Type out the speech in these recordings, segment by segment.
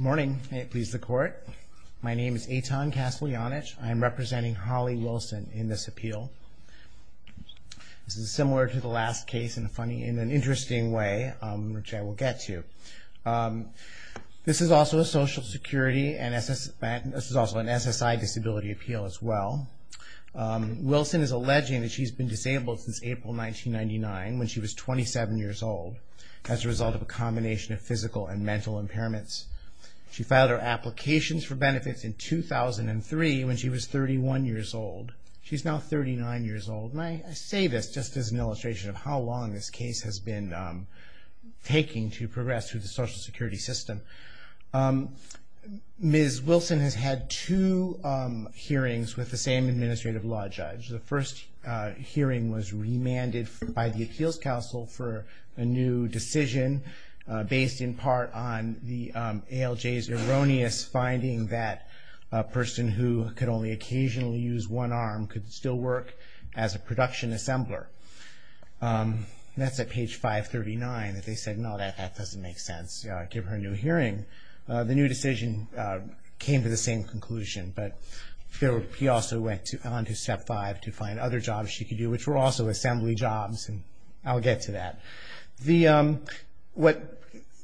Morning, may it please the court. My name is Eitan Kasteljanich. I am representing Holly Wilson in this appeal. This is similar to the last case in a funny, in an interesting way, which I will get to. This is also a Social Security and this is also an SSI disability appeal as well. Wilson is alleging that she's been disabled since April 1999, when she was 27 years old, as a result of a benefit. She filed her applications for benefits in 2003, when she was 31 years old. She's now 39 years old. I say this just as an illustration of how long this case has been taking to progress through the Social Security system. Ms. Wilson has had two hearings with the same Administrative Law Judge. The first hearing was remanded by the Appeals Council for a new decision, based in part on the ALJ's erroneous finding that a person who could only occasionally use one arm could still work as a production assembler. That's at page 539, that they said, no, that doesn't make sense. Give her a new hearing. The new decision came to the same conclusion, but he also went on to step five to find other jobs she could do, which were also assembly jobs, and I'll get to that. What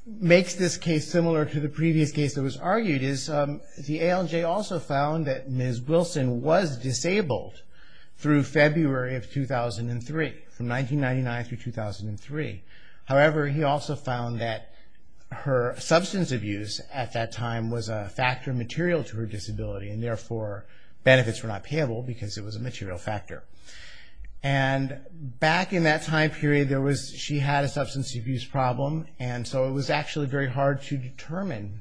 makes this case similar to the previous case that was argued is the ALJ also found that Ms. Wilson was disabled through February of 2003, from 1999 through 2003. However, he also found that her substance abuse at that time was a factor material to her disability, and therefore benefits were not payable because it was a material factor. Back in that time period, she had a substance abuse problem, and so it was actually very hard to determine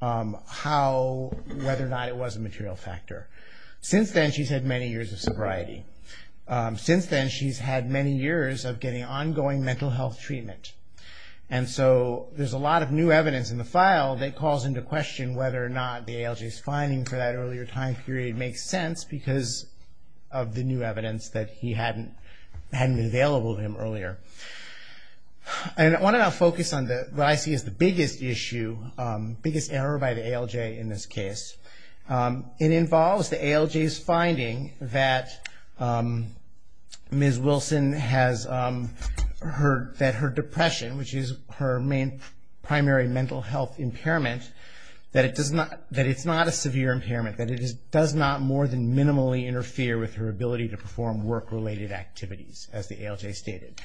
whether or not it was a material factor. Since then, she's had many years of sobriety. Since then, she's had many years of getting ongoing mental health treatment. There's a lot of new evidence in the file that calls into question whether or not the ALJ's that earlier time period makes sense because of the new evidence that he hadn't been available to him earlier. I want to now focus on what I see as the biggest issue, biggest error by the ALJ in this case. It involves the ALJ's finding that Ms. Wilson has, that her depression, which is her main primary mental health impairment, that it's not a severe impairment, that it does not more than minimally interfere with her ability to perform work-related activities, as the ALJ stated.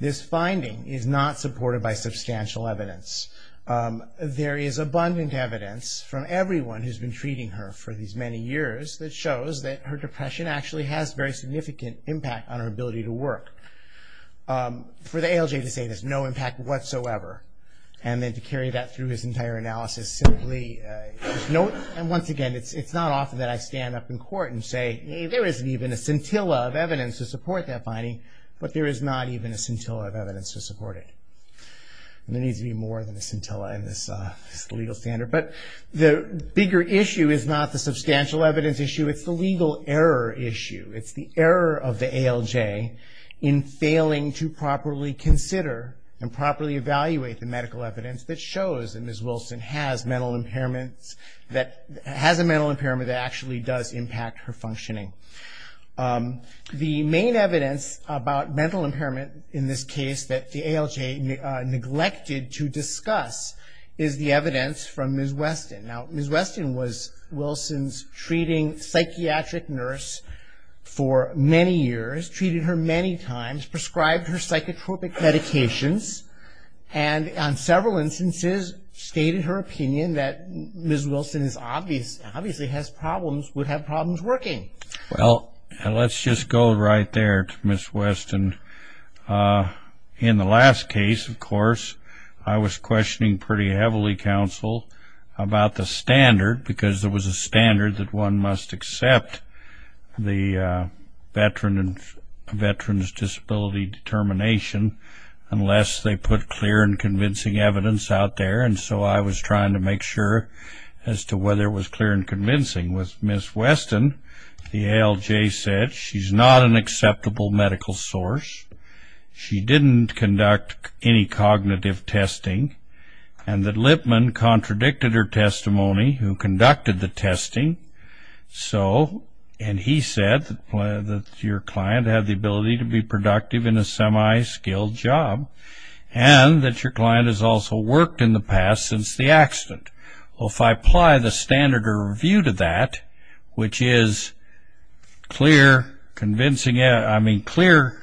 This finding is not supported by substantial evidence. There is abundant evidence from everyone who's been treating her for these many years that shows that her depression actually has very significant impact on her ability to work. For the ALJ to say there's no impact whatsoever, and then to carry that through his entire analysis, simply, once again, it's not often that I stand up in court and say, there isn't even a scintilla of evidence to support that finding, but there is not even a scintilla of evidence to support it. There needs to be more than a scintilla in this legal standard. The bigger issue is not the substantial evidence issue, it's the legal error issue. It's the error of the ALJ in failing to properly consider and evaluate the medical evidence that shows that Ms. Wilson has a mental impairment that actually does impact her functioning. The main evidence about mental impairment in this case that the ALJ neglected to discuss is the evidence from Ms. Weston. Now, Ms. Weston was Wilson's treating psychiatric nurse for many years, treated her many times, prescribed her psychotropic medications, and on several instances stated her opinion that Ms. Wilson obviously has problems, would have problems working. Well, let's just go right there to Ms. Weston. In the last case, of course, I was questioning pretty heavily, counsel, about the standard because there was a veteran's disability determination unless they put clear and convincing evidence out there, and so I was trying to make sure as to whether it was clear and convincing. With Ms. Weston, the ALJ said she's not an acceptable medical source, she didn't conduct any cognitive testing, and that Lippman contradicted her testimony, who conducted the testing, and he said that your client had the ability to be productive in a semi-skilled job, and that your client has also worked in the past since the accident. Well, if I apply the standard or review to that, which is clear, convincing, I mean, clear,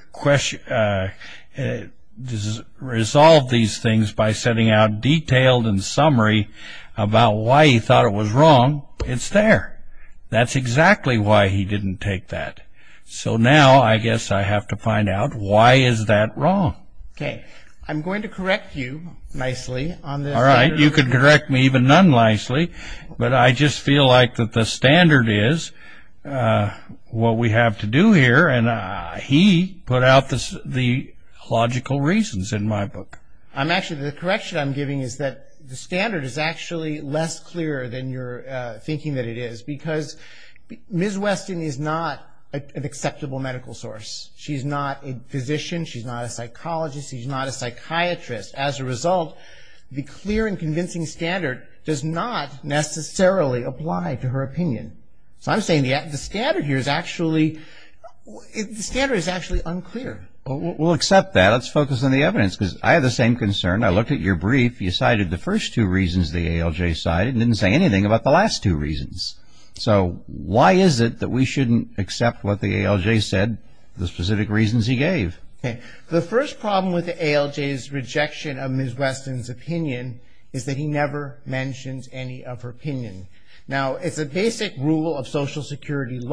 resolve these things by setting out detailed and summary about why he thought it was wrong, it's there. That's exactly why he didn't take that. So now, I guess I have to find out why is that wrong. Okay. I'm going to correct you nicely on this. All right. You can correct me even non-nicely, but I just feel like that the standard is what we have to do here, and he put out the logical reasons in my book. I'm actually, the correction I'm giving is that the standard is actually less clear than you're thinking that it is, because Ms. Weston is not an acceptable medical source. She's not a physician, she's not a psychologist, she's not a psychiatrist. As a result, the clear and convincing standard does not necessarily apply to her opinion. So I'm saying the standard here is actually, the standard is actually unclear. We'll accept that. Let's focus on the evidence, because I have the same concern. I looked at your brief. You cited the first two reasons the ALJ cited and didn't say anything about the last two reasons. So why is it that we shouldn't accept what the ALJ said, the specific reasons he gave? Okay. The first problem with the ALJ's rejection of Ms. Weston's opinion is that he never mentions any of her opinion. Now, it's a basic rule of social justice.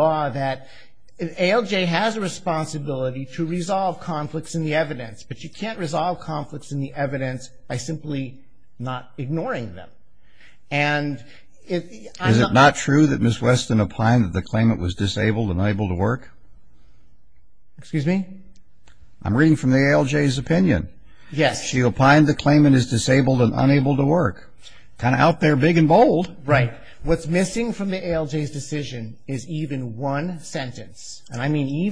You can't resolve conflicts in the evidence, but you can't resolve conflicts in the evidence by simply not ignoring them. Is it not true that Ms. Weston opined that the claimant was disabled and unable to work? Excuse me? I'm reading from the ALJ's opinion. Yes. She opined the claimant is disabled and unable to work. Kind of out there big and bold. Right. What's missing from the ALJ's decision is even one sentence, and I don't see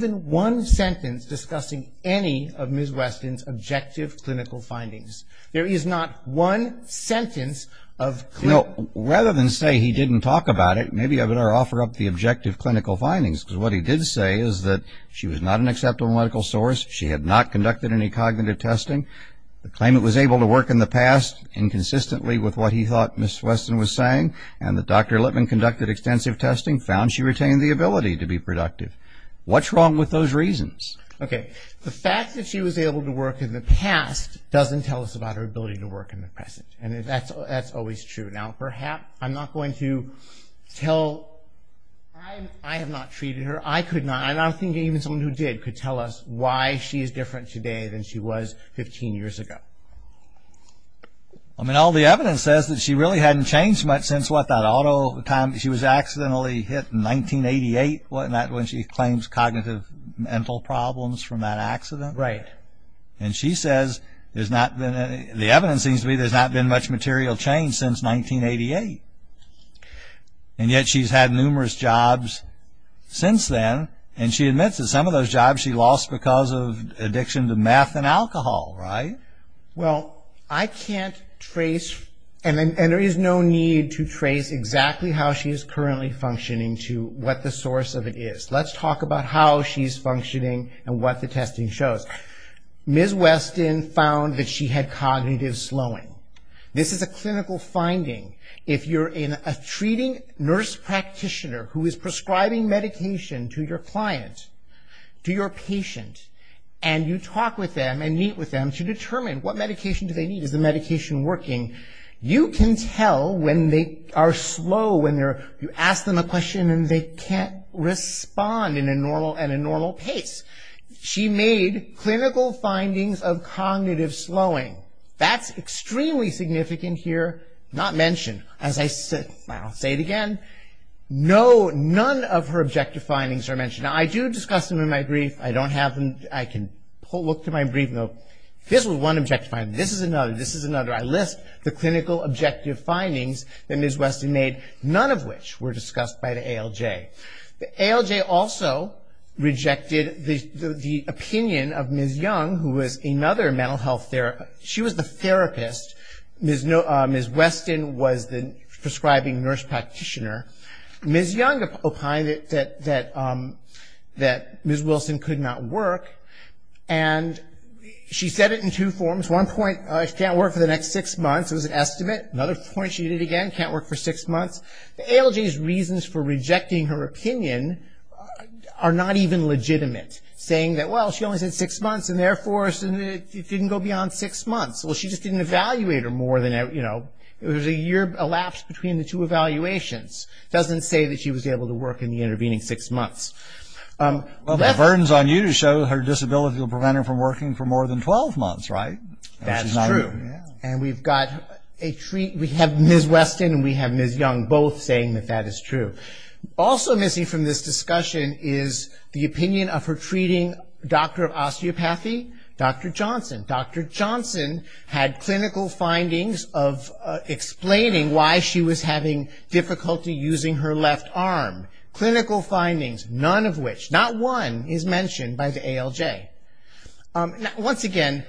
any of Ms. Weston's objective clinical findings. There is not one sentence of clear... No. Rather than say he didn't talk about it, maybe I better offer up the objective clinical findings, because what he did say is that she was not an acceptable medical source. She had not conducted any cognitive testing. The claimant was able to work in the past, inconsistently with what he thought Ms. Weston was saying, and that Dr. Lippman conducted extensive testing, found she retained the ability to be productive. What's wrong with those reasons? Okay. The fact that she was able to work in the past doesn't tell us about her ability to work in the present, and that's always true. Now, perhaps I'm not going to tell... I have not treated her. I could not, and I don't think even someone who did could tell us why she is different today than she was 15 years ago. I mean, all the evidence says that she really hadn't changed much since, what, that auto... she was accidentally hit in 1988, wasn't that, when she claims cognitive mental problems from that accident? Right. And she says there's not been... the evidence seems to be there's not been much material change since 1988, and yet she's had numerous jobs since then, and she admits that some of those jobs she lost because of addiction to meth and alcohol, right? Well, I can't trace... and there is no need to trace exactly how she is currently functioning to what the source of it is. Let's talk about how she's functioning and what the testing shows. Ms. Weston found that she had cognitive slowing. This is a clinical finding. If you're a treating nurse practitioner who is prescribing medication to your client, to your patient, and you talk with them and meet with them to determine what medication do they need, is the medication working, you can tell when they are slow, when they're... you ask them a question and they can't respond in a normal... at a normal pace. She made clinical findings of cognitive slowing. That's extremely significant here, not mentioned. As I said... I'll say it again, no... none of her objective findings are mentioned. Now, I do discuss them in my brief. I don't have them... I can look to my brief, and go, this was one objective finding, this is another, this is another finding that Ms. Weston made, none of which were discussed by the ALJ. The ALJ also rejected the opinion of Ms. Young, who was another mental health therapist. She was the therapist. Ms. Weston was the prescribing nurse practitioner. Ms. Young opined that Ms. Wilson could not work, and she said it in two forms. One point, she can't work for the next six months, it again, can't work for six months. The ALJ's reasons for rejecting her opinion are not even legitimate, saying that, well, she only said six months, and therefore, it didn't go beyond six months. Well, she just didn't evaluate her more than... it was a year elapsed between the two evaluations. It doesn't say that she was able to work in the intervening six months. Well, the burden's on you to show her disability will prevent her from working for more than 12 months, right? That's true. We have Ms. Weston and we have Ms. Young both saying that that is true. Also missing from this discussion is the opinion of her treating doctor of osteopathy, Dr. Johnson. Dr. Johnson had clinical findings of explaining why she was having difficulty using her left arm. Clinical findings, none of which, not one, is mentioned by the ALJ. Once again,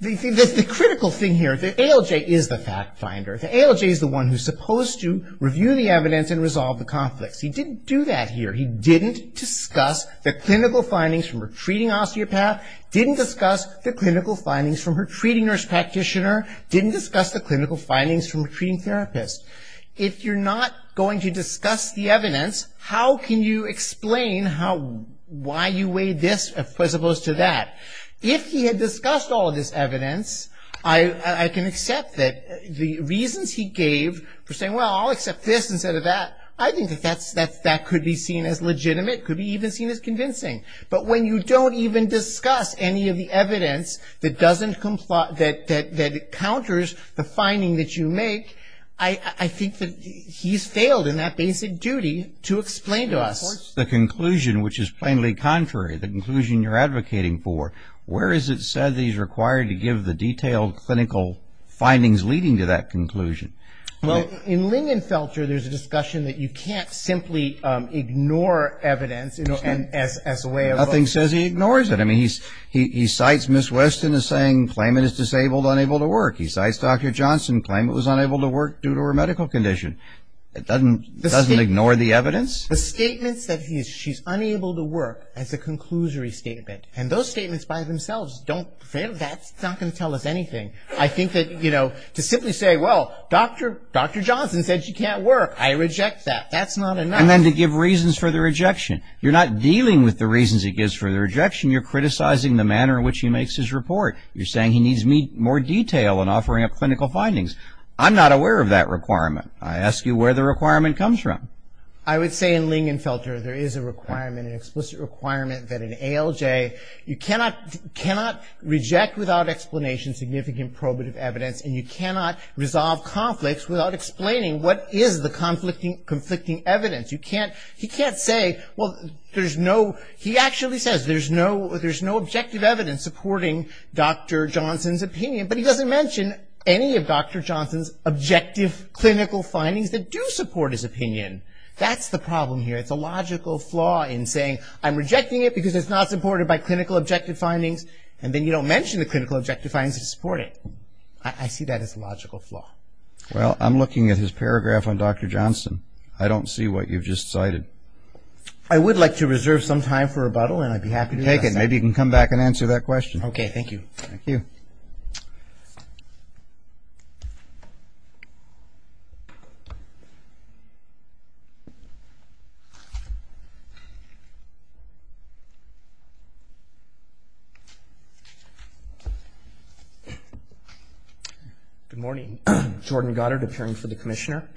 the critical thing here, the ALJ is the fact finder. The ALJ is the one who's supposed to review the evidence and resolve the conflicts. He didn't do that here. He didn't discuss the clinical findings from her treating osteopath, didn't discuss the clinical findings from her treating nurse practitioner, didn't discuss the clinical findings from her treating therapist. If you're not going to discuss the evidence, how can you explain why you weighed this as opposed to that? If he had discussed all of this evidence, I can accept that the reasons he gave for saying, well, I'll accept this instead of that, I think that could be seen as legitimate, could be even seen as convincing. But when you don't even discuss any of the evidence that doesn't comply, that counters the finding that you make, I think that he's failed in that basic duty to explain to us. That's the conclusion which is plainly contrary, the conclusion you're advocating for. Where is it said that he's required to give the detailed clinical findings leading to that conclusion? Well, in Lingenfelter, there's a discussion that you can't simply ignore evidence as a way of... Nothing says he ignores it. I mean, he cites Ms. Weston as saying, claim it is disabled, unable to work. He cites Dr. Johnson, claim it was unable to work due to her medical condition. It doesn't ignore the evidence? The statements that she's unable to work as a conclusory statement, and those statements by themselves don't, that's not going to tell us anything. I think that, you know, to simply say, well, Dr. Johnson said she can't work, I reject that. That's not enough. And then to give reasons for the rejection. You're not dealing with the reasons he gives for the rejection, you're criticizing the manner in which he makes his report. You're saying he needs more detail in offering up clinical findings. I'm not aware of that requirement. I ask you where the requirement comes from. I would say in Ling and Felter there is a requirement, an explicit requirement that in ALJ you cannot reject without explanation significant probative evidence, and you cannot resolve conflicts without explaining what is the conflicting evidence. You can't, he can't say, well, there's no, he actually says there's no objective evidence supporting Dr. Johnson's opinion, but he doesn't mention any of Dr. Johnson's objective clinical findings that do support his opinion. That's the problem here. It's a logical flaw in saying, I'm rejecting it because it's not supported by clinical objective findings, and then you don't mention the clinical objective findings that support it. I see that as a logical flaw. Well, I'm looking at his paragraph on Dr. Johnson. I don't see what you've just cited. I would like to reserve some time for rebuttal, and I'd be happy to do that. Take it. Maybe you can come back and answer that question. Okay. Thank you. Thank you. Thank you. Good morning. Jordan Goddard, appearing for the Commissioner.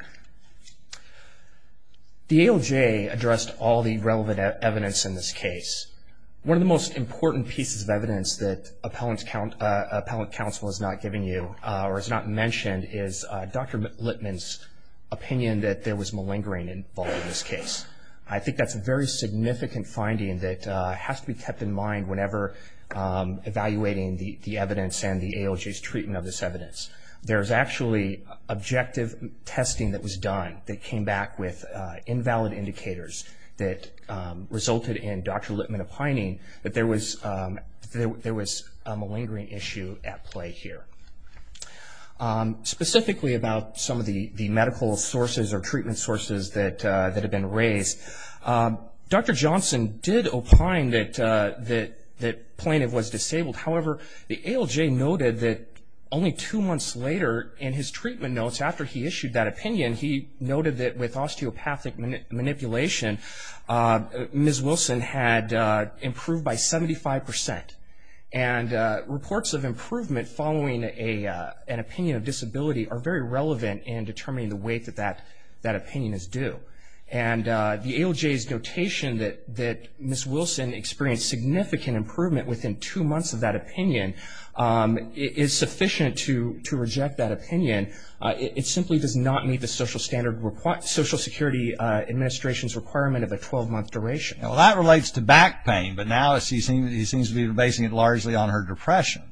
The ALJ addressed all the relevant evidence in this case. One of the most important pieces of evidence that appellate counsel has not given you or has not mentioned is Dr. Littman's opinion that there was malingering involved in this case. I think that's a very significant finding that has to be kept in mind whenever evaluating the evidence and the ALJ's treatment of this evidence. There's actually objective testing that was done that came back with invalid indicators that resulted in Dr. Littman opining that there was a malingering issue at play here. Specifically about some of the medical sources or treatment sources that have been raised, Dr. Johnson did opine that Plaintiff was disabled. However, the ALJ noted that only two months later in his treatment notes after he issued that opinion, he noted that with osteopathic manipulation, Ms. Wilson had improved by 75%. And reports of improvement following an opinion of disability are very relevant in determining the weight that that opinion is due. And the ALJ's notation that Ms. Wilson experienced significant improvement within two months of that opinion is sufficient to reject that opinion. It simply does not meet the Social Security Administration's requirement of a 12-month duration. Well, that relates to back pain, but now he seems to be basing it largely on her depression.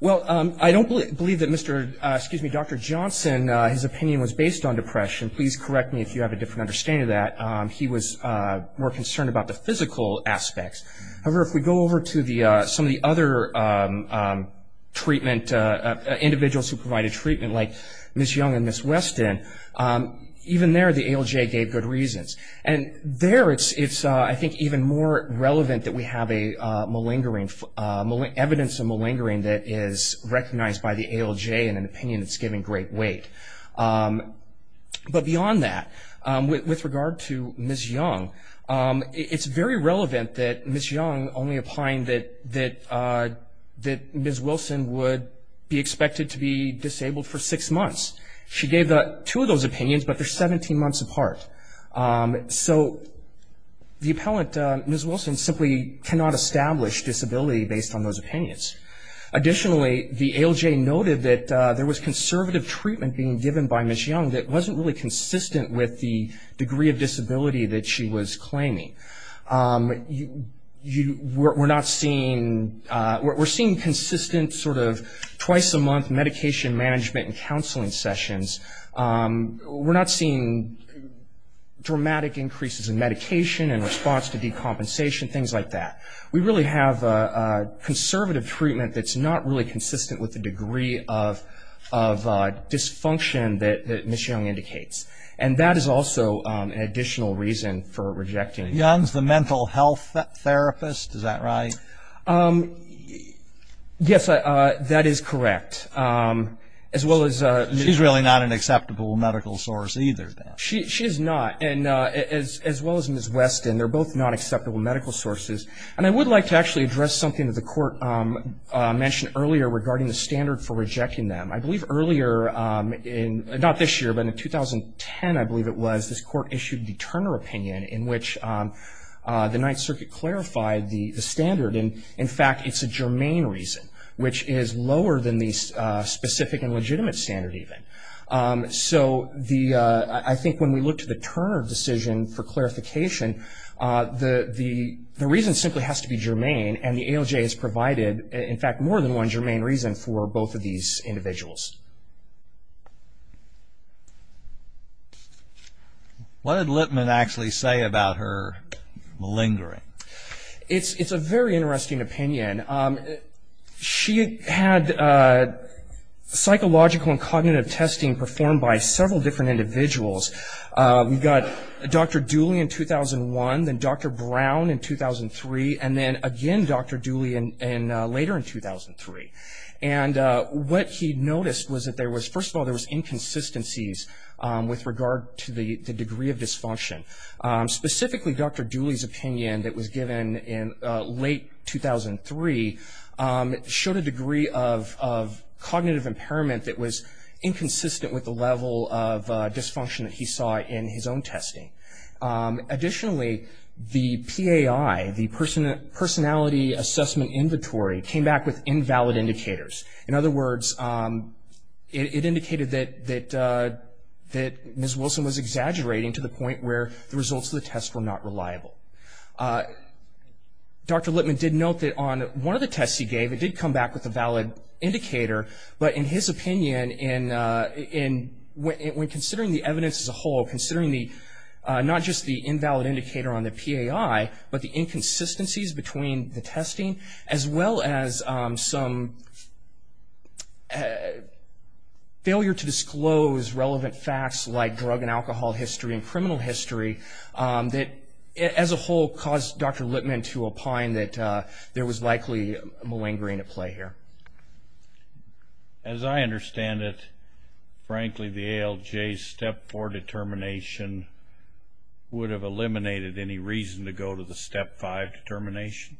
Well, I don't believe that Dr. Johnson's opinion was based on depression. Please correct me if you have a different understanding of that. He was more concerned about the physical aspects. However, if we go over to some of the other individuals who provided treatment like Ms. Young and Ms. Weston, even there the ALJ gave good reasons. And there it's, I think, even more relevant that we have evidence of malingering that is recognized by the ALJ in an opinion that's given great weight. But beyond that, with regard to Ms. Young, it's very relevant that Ms. Young only She gave two of those opinions, but they're 17 months apart. So the appellant, Ms. Wilson, simply cannot establish disability based on those opinions. Additionally, the ALJ noted that there was conservative treatment being given by Ms. Young that wasn't really consistent with the degree of disability that she was claiming. We're seeing consistent sort of twice a month medication management and counseling sessions. We're not seeing dramatic increases in medication and response to decompensation, things like that. We really have conservative treatment that's not really consistent with the degree of dysfunction that Ms. Young indicates. And that is also an additional reason for rejecting it. Young's the mental health therapist. Is that right? Yes, that is correct. As well as Ms. She's really not an acceptable medical source either, then. She is not. And as well as Ms. Weston, they're both not acceptable medical sources. And I would like to actually address something that the court mentioned earlier regarding the standard for rejecting them. I believe earlier, not this year, but in 2010, I believe it was, this court issued the Turner opinion in which the Ninth Circuit clarified the standard. And, in fact, it's a germane reason, which is lower than the specific and legitimate standard, even. So I think when we look to the Turner decision for clarification, the reason simply has to be germane. And the ALJ has provided, in fact, more than one germane reason for both of these individuals. What did Lippman actually say about her malingering? It's a very interesting opinion. She had psychological and cognitive testing performed by several different individuals. We've got Dr. Dooley in 2001, then Dr. Brown in 2003, and then, again, Dr. Dooley later in 2003. And what he noticed was that there was, first of all, there was inconsistencies with regard to the degree of dysfunction. Specifically, Dr. Dooley's opinion that was given in late 2003 showed a degree of cognitive impairment that was inconsistent with the level of dysfunction that he saw in his own testing. Additionally, the PAI, the personality assessment inventory, came back with invalid indicators. In other words, it indicated that Ms. Wilson was exaggerating to the point where the results of the test were not reliable. Dr. Lippman did note that on one of the tests he gave, it did come back with a valid indicator. But in his opinion, when considering the evidence as a whole, considering not just the invalid indicator on the PAI, but the inconsistencies between the testing, as well as some failure to disclose relevant facts like drug and alcohol history and criminal history, that, as a whole, caused Dr. Lippman to opine that there was likely malingering at play here. As I understand it, frankly, the ALJ's Step 4 determination would have eliminated any reason to go to the Step 5 determination?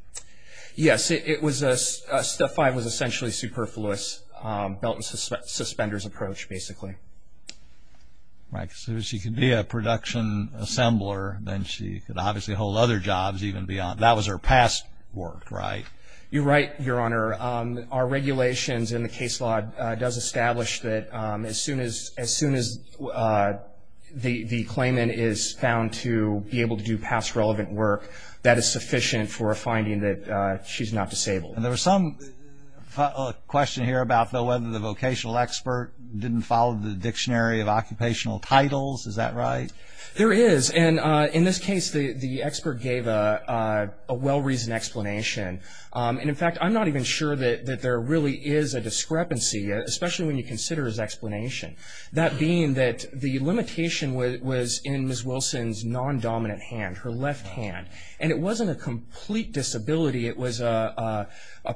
Yes. Step 5 was essentially superfluous, belt and suspenders approach, basically. Right. So if she could be a production assembler, then she could obviously hold other jobs even beyond. That was her past work, right? You're right, Your Honor. Our regulations in the case law does establish that as soon as the claimant is found to be able to do past relevant work, that is sufficient for a finding that she's not disabled. And there was some question here about whether the vocational expert didn't follow the dictionary of occupational titles. Is that right? There is. And in this case, the expert gave a well-reasoned explanation. And, in fact, I'm not even sure that there really is a discrepancy, especially when you consider his explanation, that being that the limitation was in Ms. Wilson's non-dominant hand, her left hand. And it wasn't a complete disability. It was a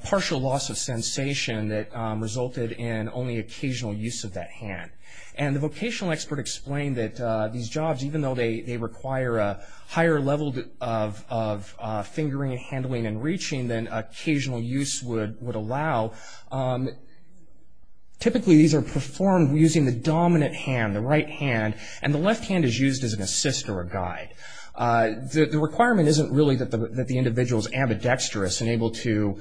partial loss of sensation that resulted in only occasional use of that hand. And the vocational expert explained that these jobs, even though they require a higher level of fingering and handling and reaching than occasional use would allow, typically these are performed using the dominant hand, the right hand. And the left hand is used as an assist or a guide. The requirement isn't really that the individual is ambidextrous and able to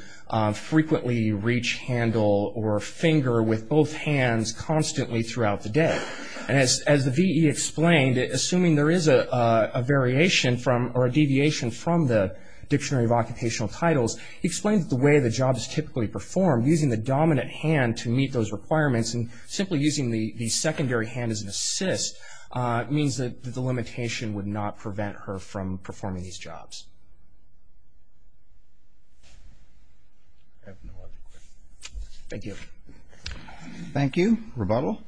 frequently reach, handle, or finger with both hands constantly throughout the day. And as the VE explained, assuming there is a variation from or a deviation from the Dictionary of Occupational Titles, he explained that the way the job is typically performed, using the dominant hand to meet those requirements and simply using the secondary hand as an assist means that the limitation would not prevent her from performing these jobs. Thank you. Thank you. Rebuttal.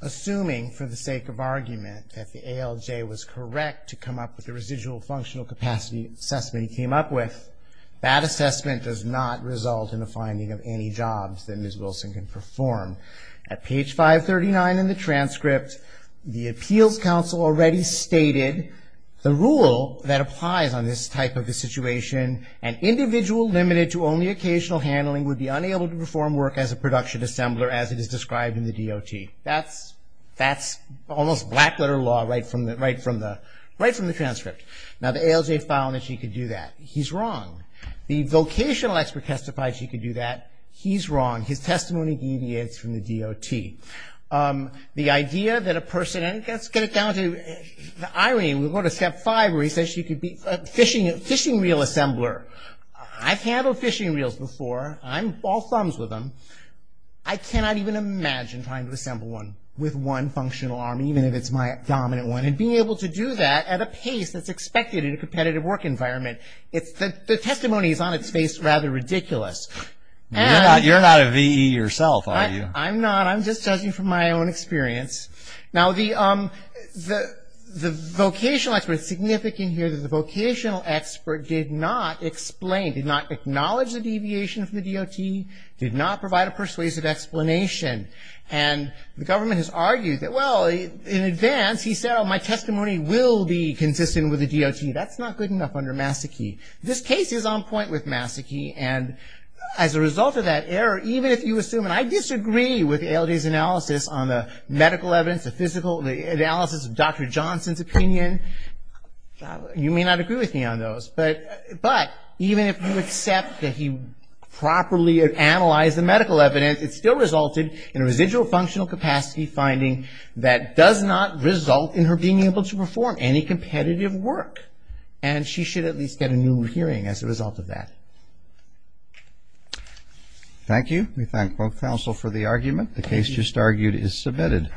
Assuming, for the sake of argument, that the ALJ was correct to come up with the residual functional capacity assessment he came up with, that assessment does not result in a finding of any jobs that Ms. Wilson can perform. At page 539 in the transcript, the Appeals Council already stated the rule that applies on this type of a situation, an individual limited to only occasional handling would be unable to perform work as a production assembler as it is described in the DOT. That's almost black letter law right from the transcript. Now the ALJ found that she could do that. He's wrong. The vocational expert testified she could do that. He's wrong. His testimony deviates from the DOT. The idea that a person, and let's get it down to Irene, we'll go to step 5 where he says she could be a fishing reel assembler. I've handled fishing reels before. I'm all thumbs with them. I cannot even imagine trying to assemble one with one functional arm, even if it's my dominant one. And being able to do that at a pace that's expected in a competitive work environment, the testimony is on its face rather ridiculous. You're not a VE yourself, are you? I'm not. I'm just judging from my own experience. Now the vocational expert, it's significant here that the vocational expert did not explain, did not acknowledge the deviation from the DOT, did not provide a persuasive explanation. And the government has argued that, well, in advance, he said, oh, my testimony will be consistent with the DOT. That's not good enough under Masaki. This case is on point with Masaki, and as a result of that error, even if you assume, and I disagree with ALJ's analysis on the medical evidence, the analysis of Dr. Johnson's opinion, you may not agree with me on those, but even if you accept that he properly analyzed the medical evidence, it still resulted in a residual functional capacity finding that does not result in her being able to perform any competitive work. And she should at least get a new hearing as a result of that. Thank you. We thank both counsel for the argument. The case just argued is submitted.